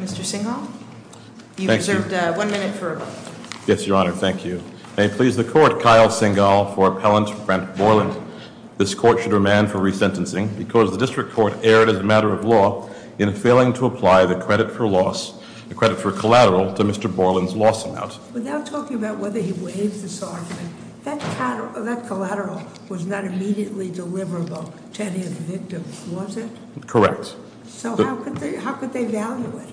Mr. Singhal, you have one minute for a vote Yes, your honor. Thank you. May it please the court, Kyle Singhal for Appellant Brent Borland. This court should remand for resentencing because the district court erred as a matter of law in failing to apply the credit for loss, the credit for collateral to Mr. Borland's loss amount. Without talking about whether he waived the sovereign, that collateral was not immediately deliverable to any of the victims, was it? Correct. So how could they value it?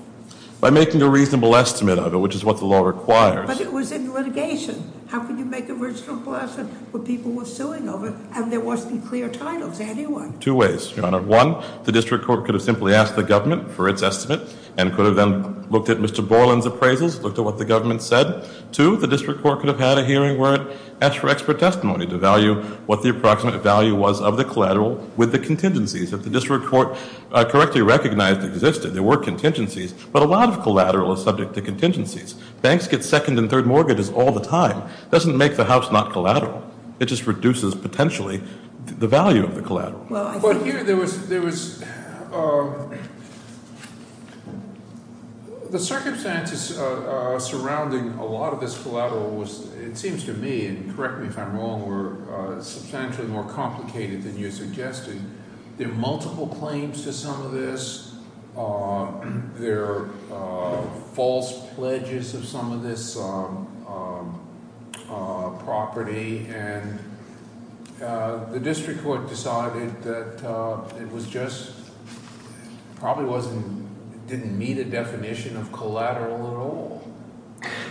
By making a reasonable estimate of it, which is what the law requires. But it was in litigation. How could you make a reasonable estimate when people were suing over and there wasn't clear title to anyone? Two ways, your honor. One, the district court could have simply asked the government for its estimate and could have then looked at Mr. Borland's appraisals, looked at what the government said. Two, the district court could have had a hearing where it asked for expert testimony to value what the approximate value was of the collateral with the contingencies. If the district court correctly recognized existed, there were contingencies, but a lot of collateral is subject to contingencies. Banks get second and third mortgages all the time. It doesn't make the house not collateral. It just reduces, potentially, the value of the collateral. But here there was, there was, the circumstances surrounding a lot of this collateral was, it seems to me, and correct me if I'm wrong, were substantially more complicated than you're suggesting. And there are multiple claims to some of this. There are false pledges of some of this property. And the district court decided that it was just, probably wasn't, didn't meet a definition of collateral at all.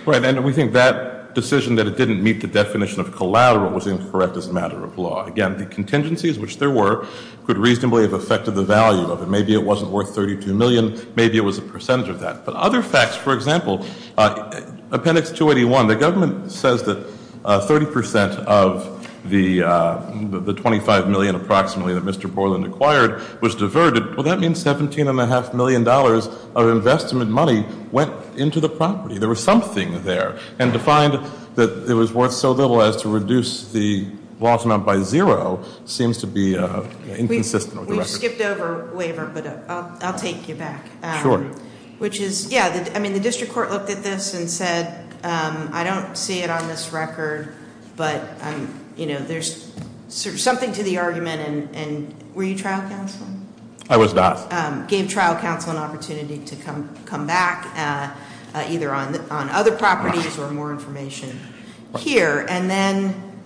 Right. And we think that decision that it didn't meet the definition of collateral was incorrect as a matter of law. Again, the contingencies, which there were, could reasonably have affected the value of it. Maybe it wasn't worth $32 million. Maybe it was a percentage of that. But other facts, for example, Appendix 281, the government says that 30% of the $25 million, approximately, that Mr. Borland acquired was diverted. Well, that means $17.5 million of investment money went into the property. There was something there. And to find that it was worth so little as to reduce the loss amount by zero seems to be inconsistent with the record. We skipped over waiver, but I'll take you back. Sure. Which is, yeah, I mean the district court looked at this and said, I don't see it on this record, but there's something to the argument, and were you trial counsel? I was not. Gave trial counsel an opportunity to come back, either on other properties or more information here. And then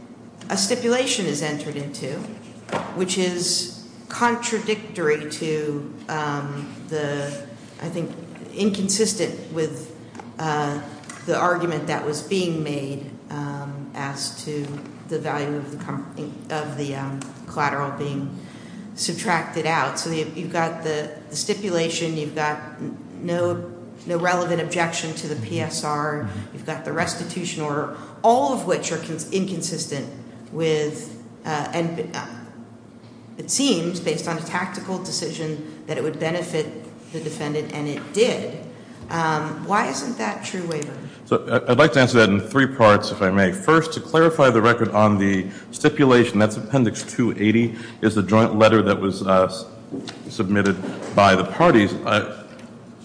a stipulation is entered into, which is contradictory to the, I think, inconsistent with the argument that was being made as to the value of the collateral being subtracted out. So you've got the stipulation, you've got no relevant objection to the PSR, you've got the restitution order, all of which are inconsistent with, and it seems, based on a tactical decision, that it would benefit the defendant, and it did. Why isn't that true waiver? So I'd like to answer that in three parts, if I may. First, to clarify the record on the stipulation, that's Appendix 280, is the joint letter that was submitted by the parties.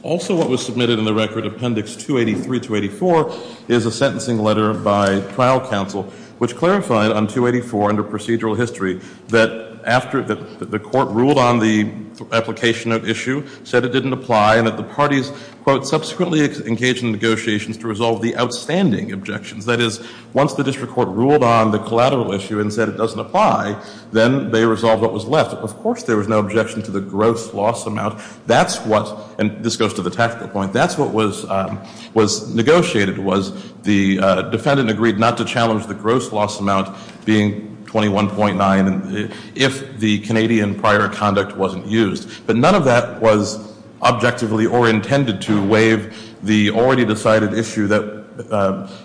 Also what was submitted in the record, Appendix 283-284, is a sentencing letter by trial counsel, which clarified on 284, under procedural history, that the court ruled on the application of issue, said it didn't apply, and that the parties, quote, subsequently engaged in negotiations to resolve the outstanding objections. That is, once the district court ruled on the collateral issue and said it doesn't apply, then they resolved what was left. Of course there was no objection to the gross loss amount. That's what, and this goes to the tactical point, that's what was negotiated, was the defendant agreed not to challenge the gross loss amount being 21.9 if the Canadian prior conduct wasn't used. But none of that was objectively or intended to waive the already decided issue that,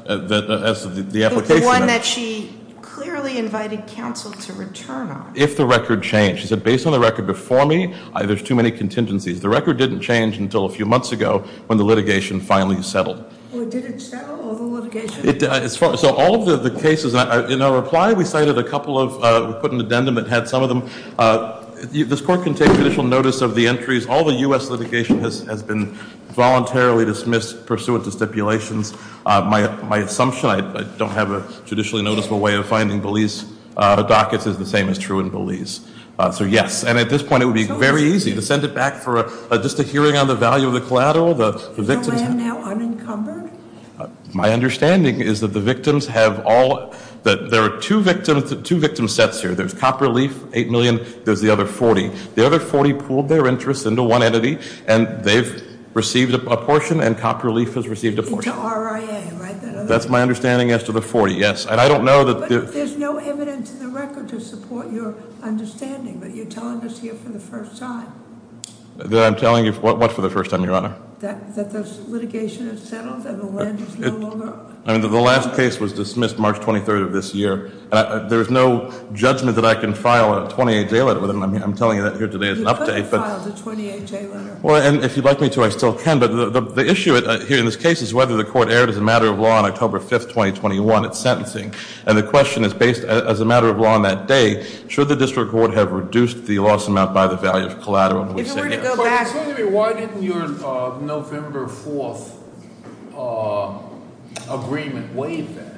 as the application. The one that she clearly invited counsel to return on. If the record changed. She said, based on the record before me, there's too many contingencies. The record didn't change until a few months ago when the litigation finally settled. Well, did it settle, all the litigation? So all of the cases, in our reply, we cited a couple of, we put an addendum that had some of them. This court can take judicial notice of the entries. All the US litigation has been voluntarily dismissed pursuant to stipulations. My assumption, I don't have a judicially noticeable way of finding Belize dockets, is the same as true in Belize. So yes, and at this point it would be very easy to send it back for just a hearing on the value of the collateral. The victims- The land now unencumbered? My understanding is that the victims have all, that there are two victim sets here. There's copper leaf, 8 million, there's the other 40. The other 40 pooled their interest into one entity, and they've received a portion, and copper leaf has received a portion. Into RIA, right? That's my understanding as to the 40, yes. And I don't know that the- But there's no evidence in the record to support your understanding, but you're telling us here for the first time. That I'm telling you what for the first time, Your Honor? That the litigation has settled and the land is no longer- I mean, the last case was dismissed March 23rd of this year. There's no judgment that I can file a 28 day letter with him. I'm telling you that here today as an update, but- You couldn't file the 28 day letter. Well, and if you'd like me to, I still can. But the issue here in this case is whether the court erred as a matter of law on October 5th, 2021 at sentencing. And the question is based as a matter of law on that day. Should the district court have reduced the loss amount by the value of collateral? If it were to go back- So, explain to me, why didn't your November 4th agreement waive that?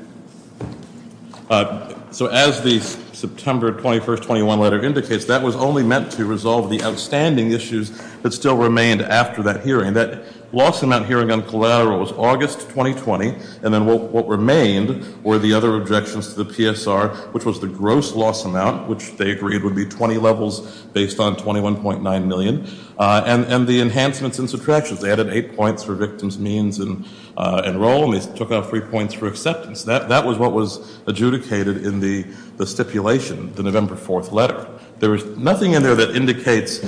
So, as the September 21st, 21 letter indicates, that was only meant to resolve the outstanding issues that still remained after that hearing. That loss amount hearing on collateral was August 2020, and then what remained were the other objections to the PSR, which was the gross loss amount, which they agreed would be 20 levels based on 21.9 million, and the enhancements and subtractions. They added eight points for victims' means and role, and they took out three points for acceptance. That was what was adjudicated in the stipulation, the November 4th letter. There was nothing in there that indicates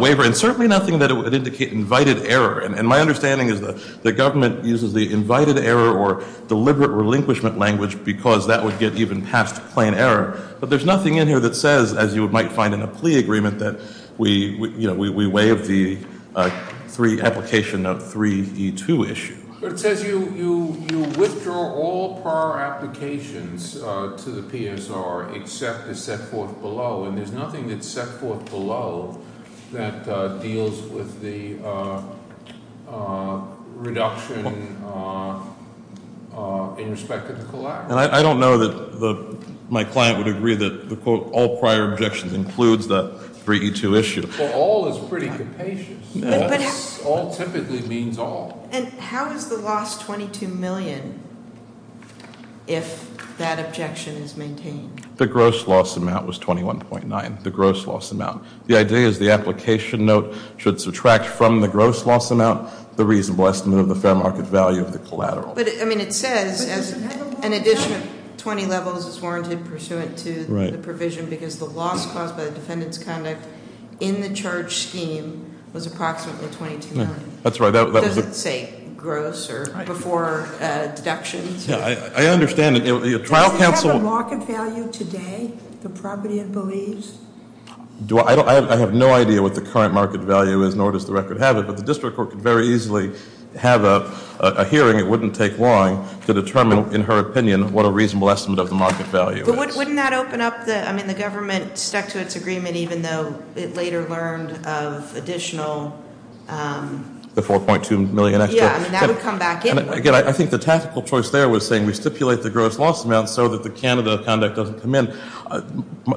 waiver, and certainly nothing that would indicate invited error. And my understanding is that the government uses the invited error or deliberate relinquishment language because that would get even past plain error. But there's nothing in here that says, as you might find in a plea agreement, that we waive the application of 3E2 issue. But it says you withdraw all prior applications to the PSR except the set forth below. And there's nothing that's set forth below that deals with the reduction in respect to the collateral. And I don't know that my client would agree that the quote all prior objections includes the 3E2 issue. But all is pretty capacious. All typically means all. And how is the last 22 million if that objection is maintained? The gross loss amount was 21.9, the gross loss amount. The idea is the application note should subtract from the gross loss amount the reasonable estimate of the fair market value of the collateral. But I mean, it says as an addition of 20 levels is warranted pursuant to the provision, because the loss caused by the defendant's conduct in the charge scheme was approximately 22 million. That's right, that was a- Does it say gross or before deductions? Yeah, I understand it. Trial counsel- Does it have a market value today, the property it believes? I have no idea what the current market value is, nor does the record have it, but the district court could very easily have a hearing. It wouldn't take long to determine, in her opinion, what a reasonable estimate of the market value is. But wouldn't that open up the, I mean, the government stuck to its agreement even though it later learned of additional- The 4.2 million extra? Yeah, I mean, that would come back anyway. Again, I think the tactical choice there was saying we stipulate the gross loss amount so that the Canada conduct doesn't come in.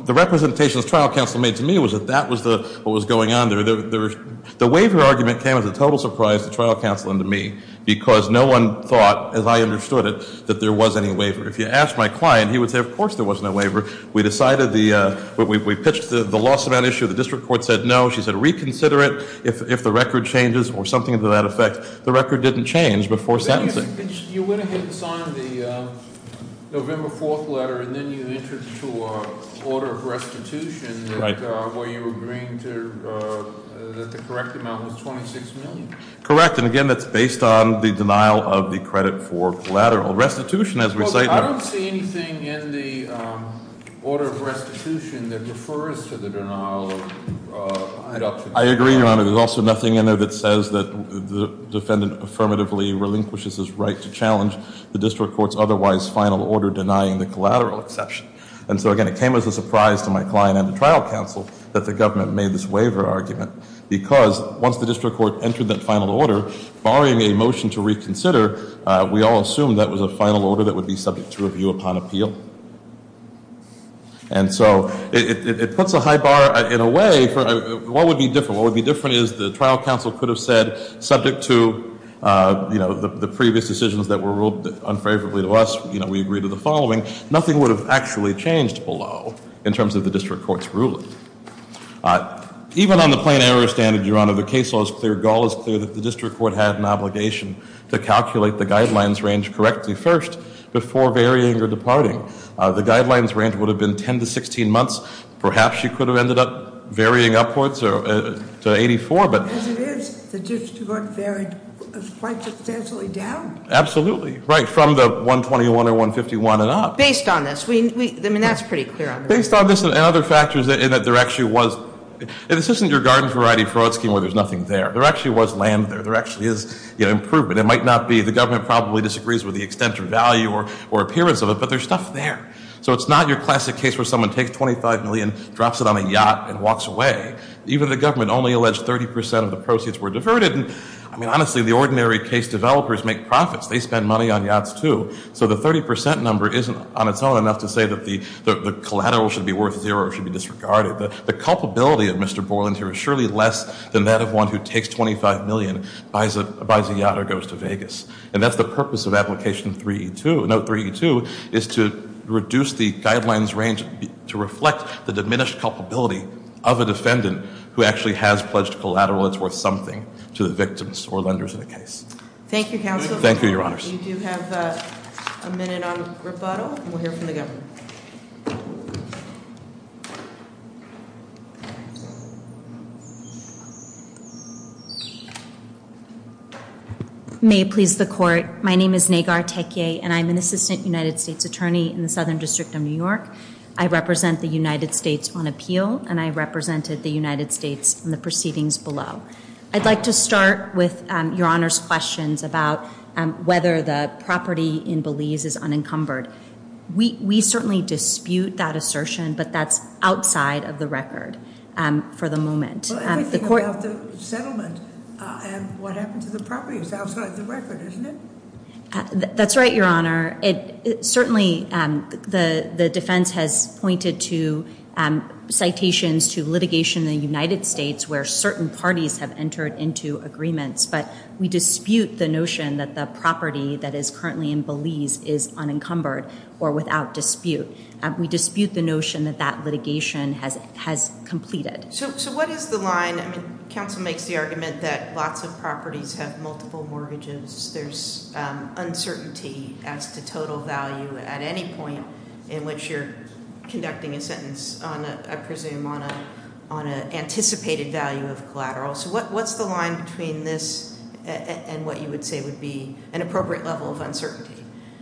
The representations trial counsel made to me was that that was what was going on there. The waiver argument came as a total surprise to trial counsel and to me, because no one thought, as I understood it, that there was any waiver. If you asked my client, he would say, of course there was no waiver. We decided the, we pitched the loss amount issue. The district court said no. She said reconsider it if the record changes or something to that effect. The record didn't change before sentencing. You went ahead and signed the November 4th letter and then you entered to a order of restitution where you were agreeing to, that the correct amount was 26 million. Correct, and again, that's based on the denial of the credit for collateral restitution as we say- I don't see anything in the order of restitution that refers to the denial of adoption. I agree, Your Honor. There's also nothing in there that says that the defendant affirmatively relinquishes his right to challenge the district court's otherwise final order denying the collateral exception. And so again, it came as a surprise to my client and the trial counsel that the government made this waiver argument. Because once the district court entered that final order, barring a motion to reconsider, we all assumed that was a final order that would be subject to review upon appeal. And so, it puts a high bar in a way for, what would be different? What would be different is the trial counsel could have said, subject to the previous decisions that were ruled unfavorably to us, we agree to the following. Nothing would have actually changed below, in terms of the district court's ruling. Even on the plain error standard, Your Honor, the case law is clear. Gall is clear that the district court had an obligation to calculate the guidelines range correctly first before varying or departing. The guidelines range would have been 10 to 16 months. Perhaps you could have ended up varying upwards to 84, but- As it is, the district court varied quite substantially down. Absolutely, right, from the 121 or 151 and up. Based on this, I mean, that's pretty clear on this. Based on this and other factors in that there actually was, this isn't your garden variety fraud scheme where there's nothing there. There actually was land there. There actually is improvement. It might not be, the government probably disagrees with the extent of value or appearance of it, but there's stuff there. So it's not your classic case where someone takes $25 million, drops it on a yacht, and walks away. Even the government only alleged 30% of the proceeds were diverted. I mean, honestly, the ordinary case developers make profits. They spend money on yachts, too. So the 30% number isn't on its own enough to say that the collateral should be worth zero or should be disregarded. The culpability of Mr. Borland here is surely less than that of one who takes $25 million, buys a yacht, or goes to Vegas. And that's the purpose of application 3E2. Note 3E2 is to reduce the guidelines range to reflect the diminished culpability of a defendant who actually has pledged collateral that's worth something to the victims or lenders of the case. Thank you, counsel. Thank you, your honors. We do have a minute on rebuttal, and we'll hear from the governor. Thank you. May it please the court. My name is Nagar Tekie, and I'm an assistant United States attorney in the Southern District of New York. I represent the United States on appeal, and I represented the United States in the proceedings below. I'd like to start with your honor's questions about whether the property in Belize is unencumbered. We certainly dispute that assertion, but that's outside of the record for the moment. The court- Well, everything about the settlement and what happened to the property is outside the record, isn't it? That's right, your honor. Certainly, the defense has pointed to citations to litigation in the United States where certain parties have entered into agreements. But we dispute the notion that the property that is currently in Belize is unencumbered or without dispute. We dispute the notion that that litigation has completed. So what is the line? I mean, counsel makes the argument that lots of properties have multiple mortgages. There's uncertainty as to total value at any point in which you're conducting a sentence on, I presume, on an anticipated value of collateral. So what's the line between this and what you would say would be an appropriate level of uncertainty?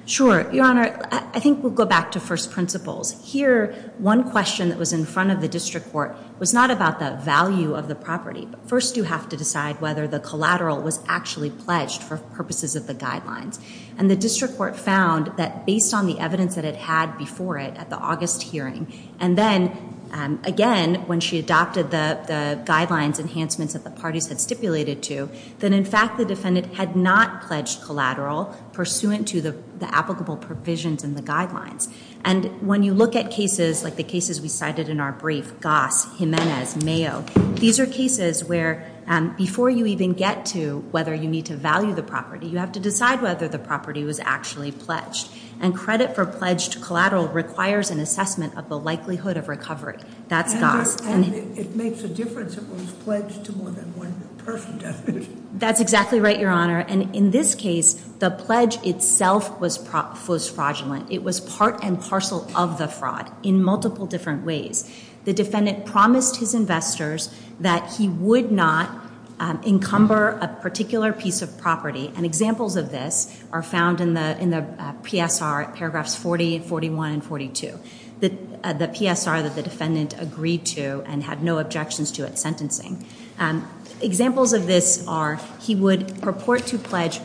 Sure, your honor. I think we'll go back to first principles. Here, one question that was in front of the district court was not about the value of the property, but first you have to decide whether the collateral was actually pledged for purposes of the guidelines. And the district court found that based on the evidence that it had before it at the August hearing, and then again, when she adopted the guidelines enhancements that the parties had stipulated to, that in fact the defendant had not pledged collateral pursuant to the applicable provisions in the guidelines. And when you look at cases like the cases we cited in our brief, Goss, Jimenez, Mayo, these are cases where before you even get to whether you need to value the property, you have to decide whether the property was actually pledged. And credit for pledged collateral requires an assessment of the likelihood of recovery. That's Goss. And it makes a difference if it was pledged to more than one person, doesn't it? That's exactly right, your honor. And in this case, the pledge itself was fraudulent. It was part and parcel of the fraud in multiple different ways. The defendant promised his investors that he would not encumber a particular piece of property. And examples of this are found in the PSR, paragraphs 40, 41, and 42. The PSR that the defendant agreed to and had no objections to at sentencing. Examples of this are, he would purport to pledge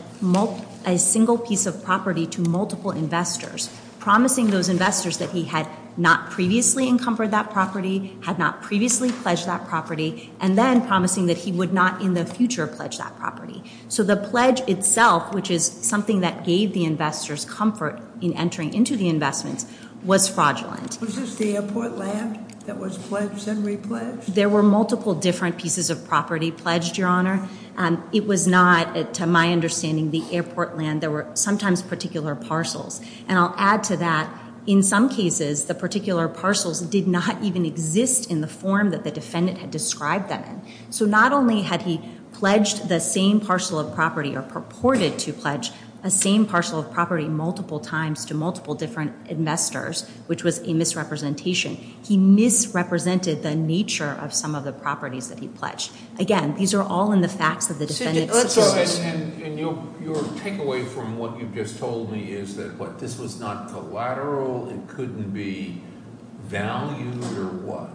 a single piece of property to multiple investors. Promising those investors that he had not previously encumbered that property, had not previously pledged that property, and then promising that he would not in the future pledge that property. So the pledge itself, which is something that gave the investors comfort in entering into the investments, was fraudulent. Was this the airport land that was pledged and re-pledged? There were multiple different pieces of property pledged, your honor. It was not, to my understanding, the airport land. There were sometimes particular parcels. And I'll add to that, in some cases, the particular parcels did not even exist in the form that the defendant had described them in. So not only had he pledged the same parcel of property, or purported to pledge a same parcel of property multiple times to multiple different investors, which was a misrepresentation. He misrepresented the nature of some of the properties that he pledged. Again, these are all in the facts of the defendant's- Let's go ahead, and your takeaway from what you've just told me is that this was not collateral, it couldn't be valued, or what?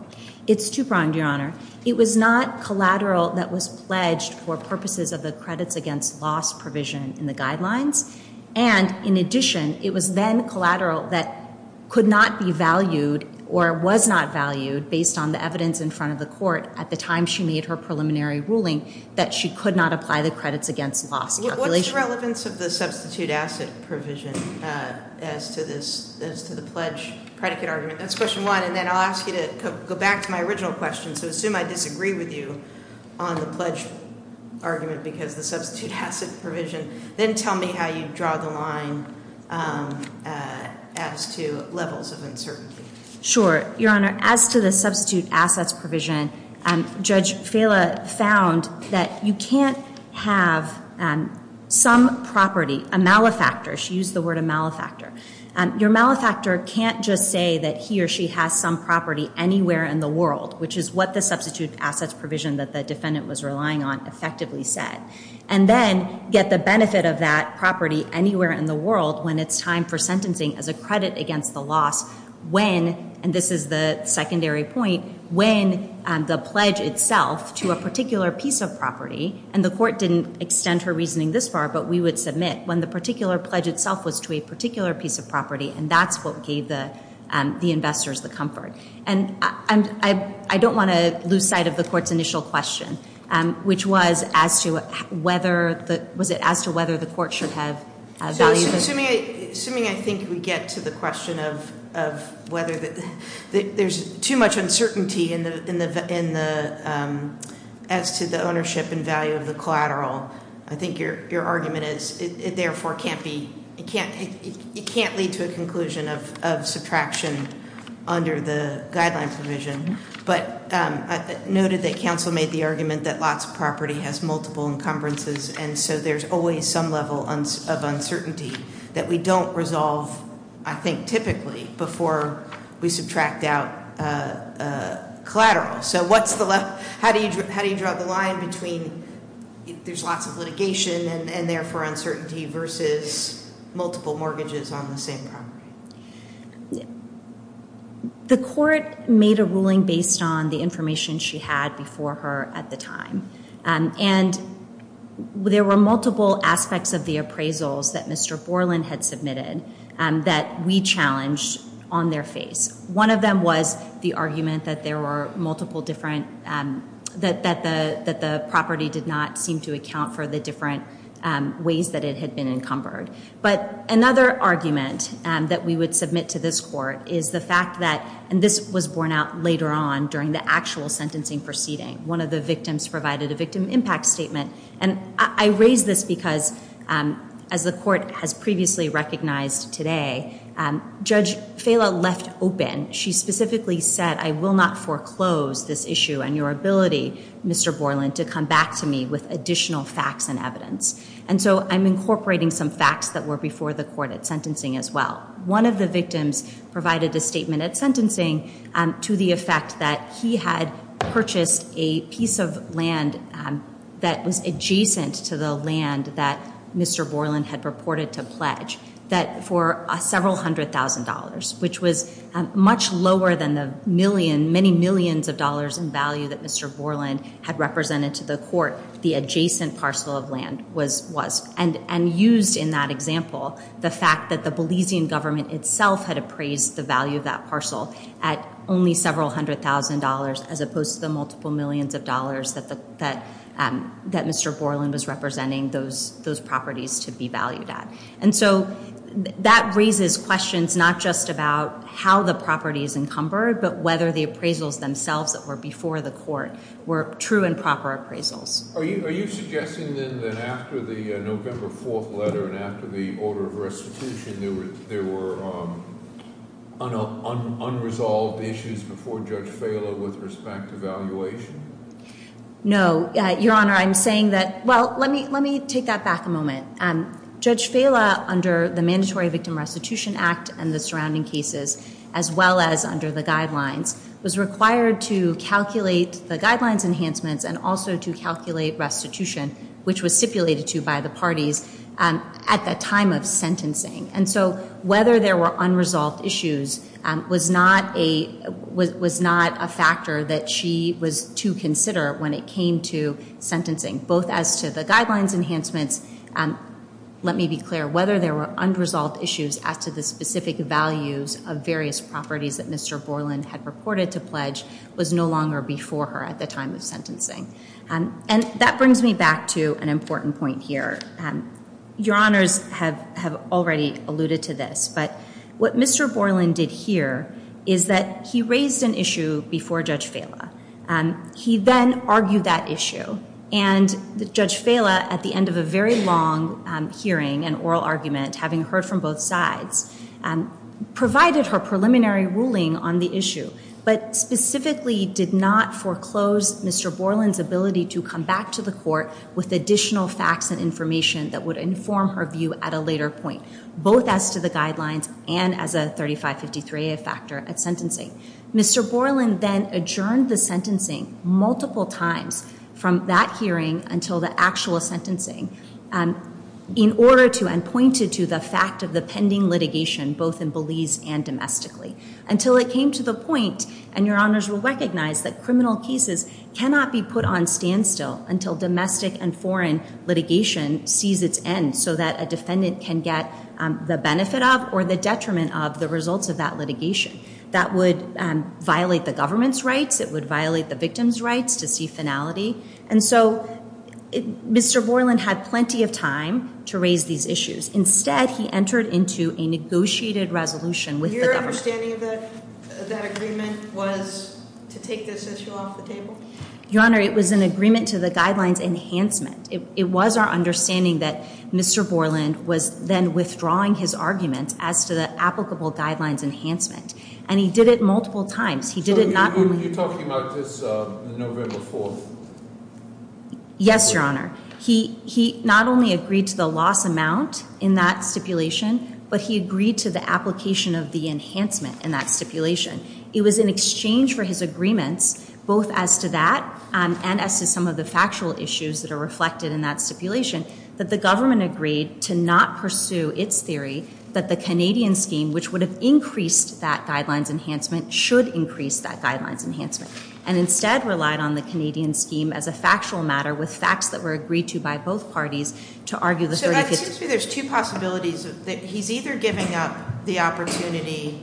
It's two-pronged, your honor. It was not collateral that was pledged for purposes of the credits against loss provision in the guidelines. And in addition, it was then collateral that could not be valued or was not valued based on the evidence in front of the court at the time she made her preliminary ruling. That she could not apply the credits against loss calculation. What's the relevance of the substitute asset provision as to the pledge predicate argument? That's question one, and then I'll ask you to go back to my original question. So assume I disagree with you on the pledge argument because the substitute asset provision. Then tell me how you draw the line as to levels of uncertainty. Sure, your honor, as to the substitute assets provision, Judge Fela found that you can't have some property, a malefactor, she used the word a malefactor, your malefactor can't just say that he or she has some property anywhere in the world, which is what the substitute assets provision that the defendant was relying on effectively said. And then get the benefit of that property anywhere in the world when it's time for sentencing as a credit against the loss when, and this is the secondary point, when the pledge itself to a particular piece of property. And the court didn't extend her reasoning this far, but we would submit when the particular pledge itself was to a particular piece of property. And that's what gave the investors the comfort. And I don't want to lose sight of the court's initial question, which was as to whether the court should have value- So assuming I think we get to the question of whether there's too much uncertainty as to the ownership and value of the collateral. I think your argument is, it therefore can't lead to a conclusion of subtraction under the guideline provision. But noted that counsel made the argument that lots of property has multiple encumbrances, and so there's always some level of uncertainty that we don't resolve, I think, typically before we subtract out collateral. So how do you draw the line between, there's lots of litigation and therefore uncertainty versus multiple mortgages on the same property? The court made a ruling based on the information she had before her at the time. And there were multiple aspects of the appraisals that Mr. Borland had submitted that we challenged on their face. One of them was the argument that there were multiple different, that the property did not seem to account for the different ways that it had been encumbered. But another argument that we would submit to this court is the fact that, and this was borne out later on during the actual sentencing proceeding. One of the victims provided a victim impact statement. And I raise this because, as the court has previously recognized today, Judge Fala left open, she specifically said, I will not foreclose this issue and your ability, Mr. Borland, to come back to me with additional facts and evidence. And so I'm incorporating some facts that were before the court at sentencing as well. One of the victims provided a statement at sentencing to the effect that he had purchased a piece of land that was adjacent to the land that Mr. Borland had purported to pledge that for several hundred thousand dollars, which was much lower than the many millions of dollars in value that Mr. Borland had represented to the court, the adjacent parcel of land was. And used in that example, the fact that the Belizean government itself had appraised the value of that parcel at only several hundred thousand dollars as opposed to the multiple millions of dollars that Mr. Borland was representing those properties to be valued at. And so that raises questions not just about how the property is encumbered, but whether the appraisals themselves that were before the court were true and proper appraisals. Are you suggesting then that after the November 4th letter and after the order of restitution, there were unresolved issues before Judge Fala with respect to valuation? No, your honor, I'm saying that, well, let me take that back a moment. Judge Fala, under the Mandatory Victim Restitution Act and the surrounding cases, as well as under the guidelines, was required to calculate the guidelines enhancements and also to calculate restitution, which was stipulated to by the parties at the time of sentencing. And so whether there were unresolved issues was not a factor that she was to consider when it came to sentencing. Both as to the guidelines enhancements, let me be clear, whether there were unresolved issues as to the specific values of various properties that Mr. Borland had reported to pledge was no longer before her at the time of sentencing. And that brings me back to an important point here. Your honors have already alluded to this, but what Mr. Borland did here is that he raised an issue before Judge Fala. He then argued that issue. And Judge Fala, at the end of a very long hearing and oral argument, having heard from both sides, provided her preliminary ruling on the issue. But specifically did not foreclose Mr. Borland's ability to come back to the court with additional facts and information that would inform her view at a later point. Both as to the guidelines and as a 3553A factor at sentencing. Mr. Borland then adjourned the sentencing multiple times from that hearing until the actual sentencing. In order to, and pointed to, the fact of the pending litigation, both in Belize and domestically. Until it came to the point, and your honors will recognize, that criminal cases cannot be put on standstill until domestic and foreign litigation sees its end so that a defendant can get the benefit of or the detriment of the results of that litigation. That would violate the government's rights. It would violate the victim's rights to see finality. And so, Mr. Borland had plenty of time to raise these issues. Instead, he entered into a negotiated resolution with the government. Your honor, it was an agreement to the guidelines enhancement. It was our understanding that Mr. Borland was then withdrawing his argument as to the applicable guidelines enhancement. And he did it multiple times. He did it not only- So you're talking about this November 4th? Yes, your honor. He not only agreed to the loss amount in that stipulation, but he agreed to the application of the enhancement in that stipulation. It was in exchange for his agreements, both as to that and as to some of the factual issues that are reflected in that stipulation, that the government agreed to not pursue its theory that the Canadian scheme, which would have increased that guidelines enhancement, should increase that guidelines enhancement. And instead relied on the Canadian scheme as a factual matter with facts that were agreed to by both parties to argue the- It seems to me there's two possibilities, that he's either giving up the opportunity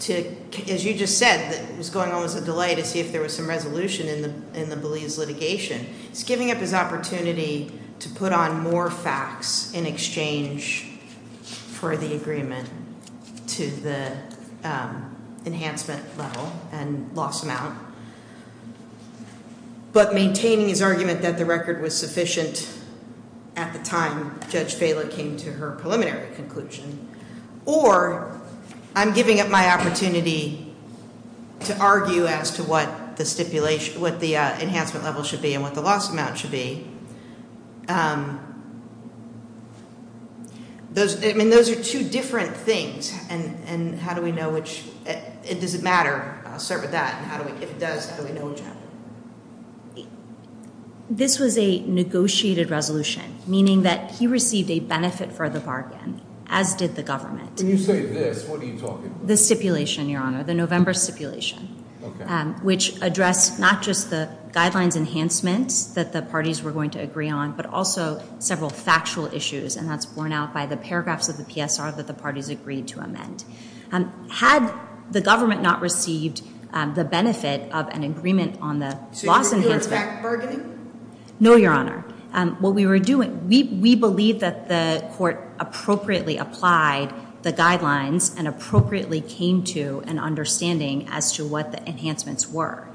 to, as you just said, it was going on as a delay to see if there was some resolution in the Belize litigation. He's giving up his opportunity to put on more facts in exchange for the agreement to the enhancement level and loss amount. But maintaining his argument that the record was sufficient at the time Judge Baila came to her preliminary conclusion. Or I'm giving up my opportunity to argue as to what the enhancement level should be and what the loss amount should be. I mean, those are two different things. And how do we know which, does it matter? I'll start with that, and how do we, if it does, how do we know which happened? This was a negotiated resolution, meaning that he received a benefit for the bargain, as did the government. When you say this, what are you talking about? The stipulation, your honor, the November stipulation. Okay. Which addressed not just the guidelines enhancements that the parties were going to agree on, but also several factual issues. And that's borne out by the paragraphs of the PSR that the parties agreed to amend. Had the government not received the benefit of an agreement on the loss enhancement. So you were doing fact bargaining? No, your honor. What we were doing, we believe that the court appropriately applied the guidelines and appropriately came to an understanding as to what the enhancements were.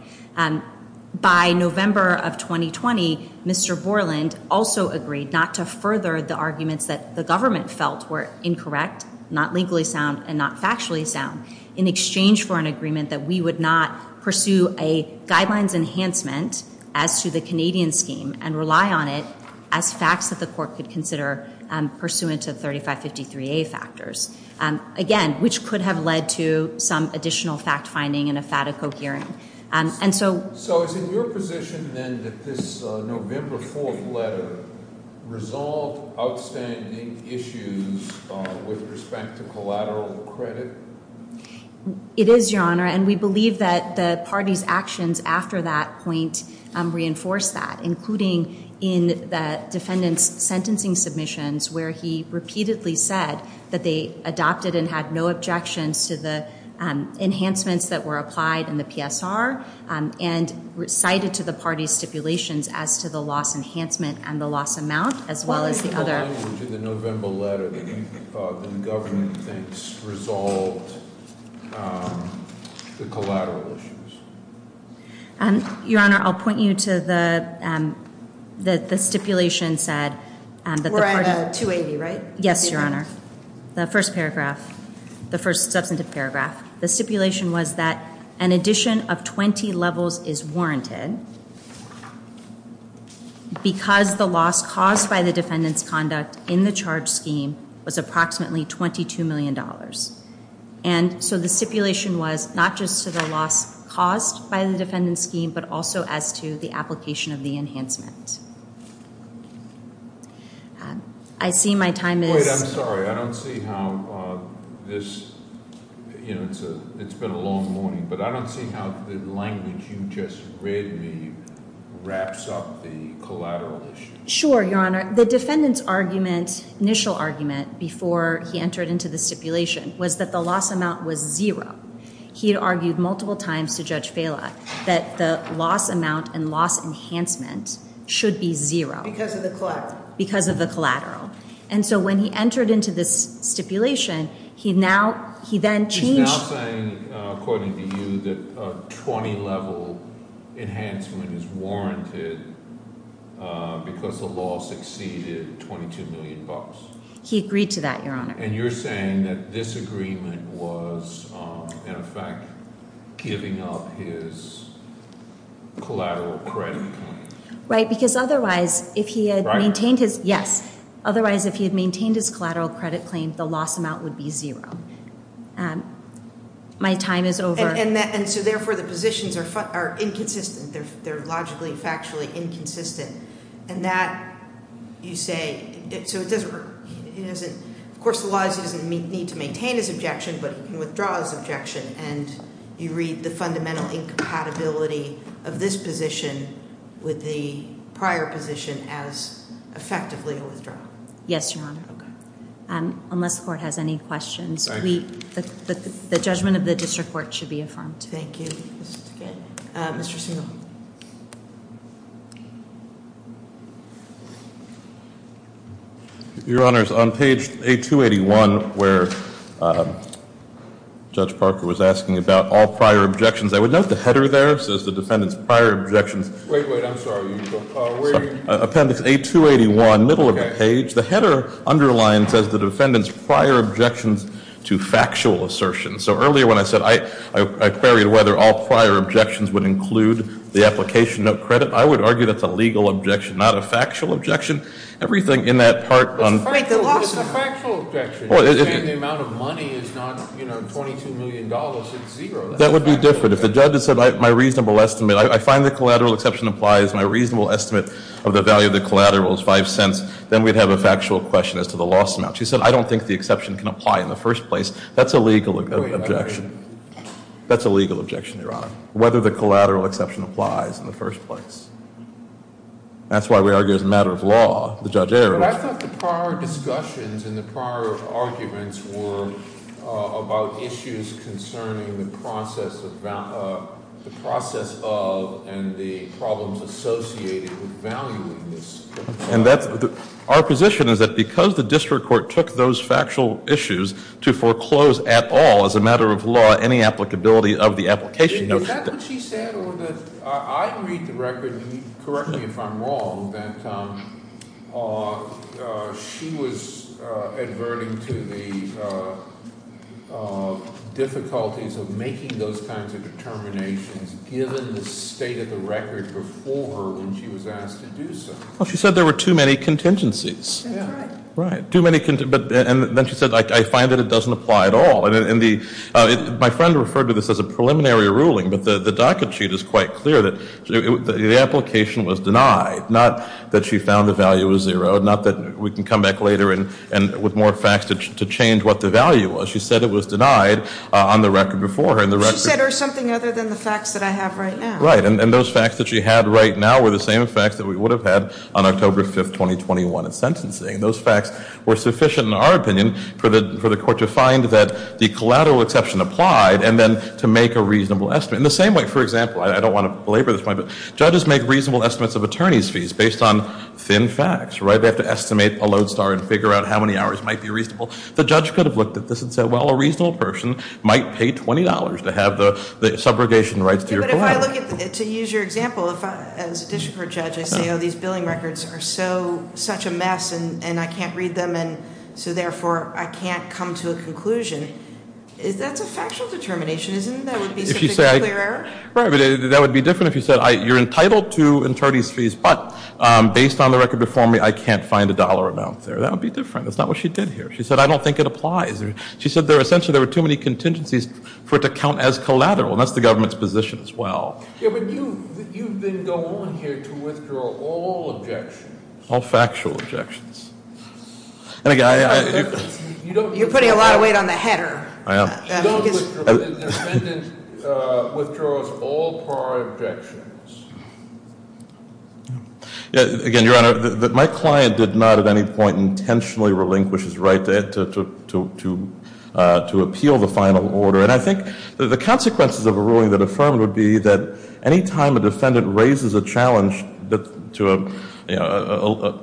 By November of 2020, Mr. Borland also agreed not to further the arguments that the government felt were incorrect, not legally sound, and not factually sound. In exchange for an agreement that we would not pursue a guidelines enhancement as to the Canadian scheme and rely on it as facts that the court could consider pursuant to 3553A factors. Again, which could have led to some additional fact finding in a FATICO hearing. And so- Any issues with respect to collateral credit? It is, your honor, and we believe that the party's actions after that point reinforced that, including in the defendant's sentencing submissions where he repeatedly said that they adopted and had no objections to the enhancements that were applied in the PSR. And recited to the party's stipulations as to the loss enhancement and the loss amount, as well as the other- Which in the November letter, the government thinks resolved the collateral issues. And, your honor, I'll point you to the stipulation said that the party- We're at 280, right? Yes, your honor. The first paragraph, the first substantive paragraph. The stipulation was that an addition of 20 levels is warranted because the loss caused by the defendant's conduct in the charge scheme was approximately $22 million. And so the stipulation was not just to the loss caused by the defendant's scheme, but also as to the application of the enhancement. I see my time is- Wait, I'm sorry. I don't see how this, it's been a long morning. But I don't see how the language you just read me wraps up the collateral issue. Sure, your honor. The defendant's argument, initial argument, before he entered into the stipulation was that the loss amount was zero. He had argued multiple times to Judge Vela that the loss amount and loss enhancement should be zero. Because of the collateral. Because of the collateral. And so when he entered into this stipulation, he now, he then changed- He's now saying, according to you, that a 20 level enhancement is warranted because the loss exceeded $22 million. He agreed to that, your honor. And you're saying that this agreement was, in effect, giving up his collateral credit claim. Right, because otherwise, if he had maintained his, yes. Otherwise, if he had maintained his collateral credit claim, the loss amount would be zero. My time is over. And so therefore, the positions are inconsistent. They're logically, factually inconsistent. And that, you say, so it doesn't work. Of course, the laws doesn't need to maintain his objection, but he can withdraw his objection. And you read the fundamental incompatibility of this position with the prior position as effectively a withdrawal. Yes, your honor. Okay. Unless the court has any questions. The judgment of the district court should be affirmed. Thank you. Your honors, on page 8281, where Judge Parker was asking about all prior objections. I would note the header there, says the defendant's prior objections. Wait, wait, I'm sorry, where are you? Appendix 8281, middle of the page. The header underlines, says the defendant's prior objections to factual assertions. So earlier when I said, I queried whether all prior objections would include the application of credit. I would argue that's a legal objection, not a factual objection. Everything in that part on- Wait, the loss- It's a factual objection, and the amount of money is not $22 million, it's zero. That would be different. If the judge had said, my reasonable estimate, I find the collateral exception applies. If my reasonable estimate of the value of the collateral is five cents, then we'd have a factual question as to the loss amount. She said, I don't think the exception can apply in the first place. That's a legal objection. That's a legal objection, your honor. Whether the collateral exception applies in the first place. That's why we argue as a matter of law, the judge- But I thought the prior discussions and the prior arguments were about issues concerning the process of and the problems associated with valuing this. And that's, our position is that because the district court took those factual issues to foreclose at all, as a matter of law, any applicability of the application- Is that what she said, or did, I read the record, and correct me if I'm wrong, that she was adverting to the difficulties of making those kinds of determinations given the state of the record before her when she was asked to do so. She said there were too many contingencies. That's right. Right, too many, and then she said, I find that it doesn't apply at all. And my friend referred to this as a preliminary ruling, but the docket sheet is quite clear that the application was denied. Not that she found the value was zero, not that we can come back later and with more facts to change what the value was. She said it was denied on the record before her, and the record- She said, or something other than the facts that I have right now. Right, and those facts that she had right now were the same facts that we would have had on October 5th, 2021 in sentencing. Those facts were sufficient, in our opinion, for the court to find that the collateral exception applied, and then to make a reasonable estimate. In the same way, for example, I don't want to belabor this point, but judges make reasonable estimates of attorney's fees based on thin facts, right? They have to estimate a load star and figure out how many hours might be reasonable. The judge could have looked at this and said, well, a reasonable person might pay $20 to have the subrogation rights to your collateral. But if I look at, to use your example, as a district court judge, I say, these billing records are such a mess and I can't read them, and so therefore, I can't come to a conclusion, that's a factual determination. Isn't that would be a clear error? Right, but that would be different if you said, you're entitled to attorney's fees, but based on the record before me, I can't find a dollar amount there. That would be different. That's not what she did here. She said, I don't think it applies. She said, essentially, there were too many contingencies for it to count as collateral. And that's the government's position as well. Yeah, but you've been going here to withdraw all objections. All factual objections. You're putting a lot of weight on the header. I am. The defendant withdraws all prior objections. Again, Your Honor, my client did not at any point intentionally relinquish his right to appeal the final order. And I think the consequences of a ruling that affirmed would be that any time a defendant raises a challenge to a,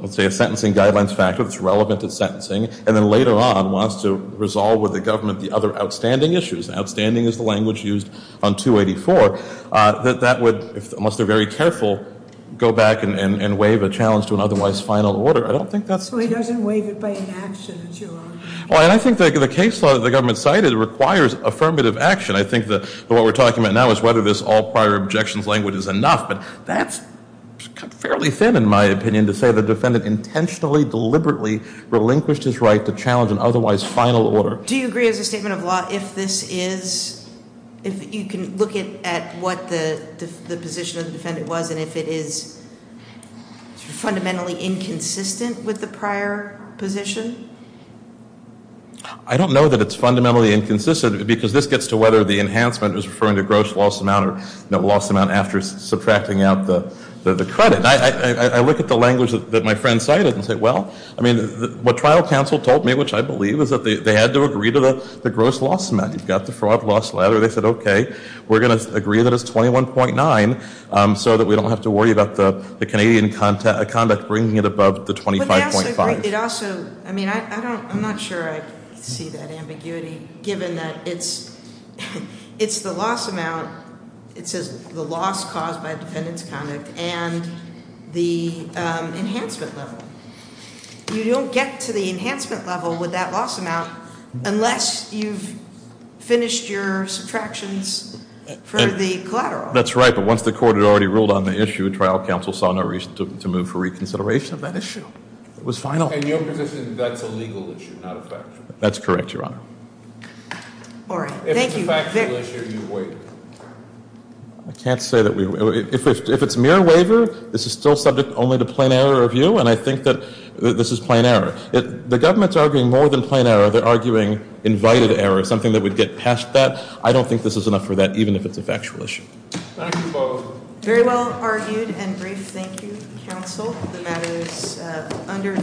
let's say, a sentencing guidelines factor that's relevant to sentencing, and then later on wants to resolve with the government the other outstanding issues, outstanding is the language used on 284, that that would, unless they're very careful, go back and waive a challenge to an otherwise final order. I don't think that's- Well, he doesn't waive it by inaction, it's your honor. Well, and I think the case law that the government cited requires affirmative action. I think that what we're talking about now is whether this all prior objections language is enough. But that's fairly thin in my opinion to say the defendant intentionally, deliberately relinquished his right to challenge an otherwise final order. Do you agree as a statement of law if this is, if you can look at what the position of the defendant was and if it is fundamentally inconsistent with the prior position? I don't know that it's fundamentally inconsistent because this gets to whether the enhancement is referring to gross loss amount or no loss amount after subtracting out the credit. I look at the language that my friend cited and say, well, I mean, what trial counsel told me, which I believe, is that they had to agree to the gross loss amount. You've got the fraud loss ladder. They said, okay, we're going to agree that it's 21.9 so that we don't have to worry about the Canadian conduct bringing it above the 25.5. It also, I mean, I'm not sure I see that ambiguity given that it's the loss amount. And the enhancement level. You don't get to the enhancement level with that loss amount unless you've finished your subtractions for the collateral. That's right, but once the court had already ruled on the issue, trial counsel saw no reason to move for reconsideration of that issue. It was final. In your position, that's a legal issue, not a factual issue. That's correct, Your Honor. All right, thank you. If it's a factual issue, you wait. I can't say that we, if it's mere waiver, this is still subject only to plain error review, and I think that this is plain error. The government's arguing more than plain error. They're arguing invited error, something that would get past that. I don't think this is enough for that, even if it's a factual issue. Thank you both. Very well argued and brief, thank you, counsel. The matter is under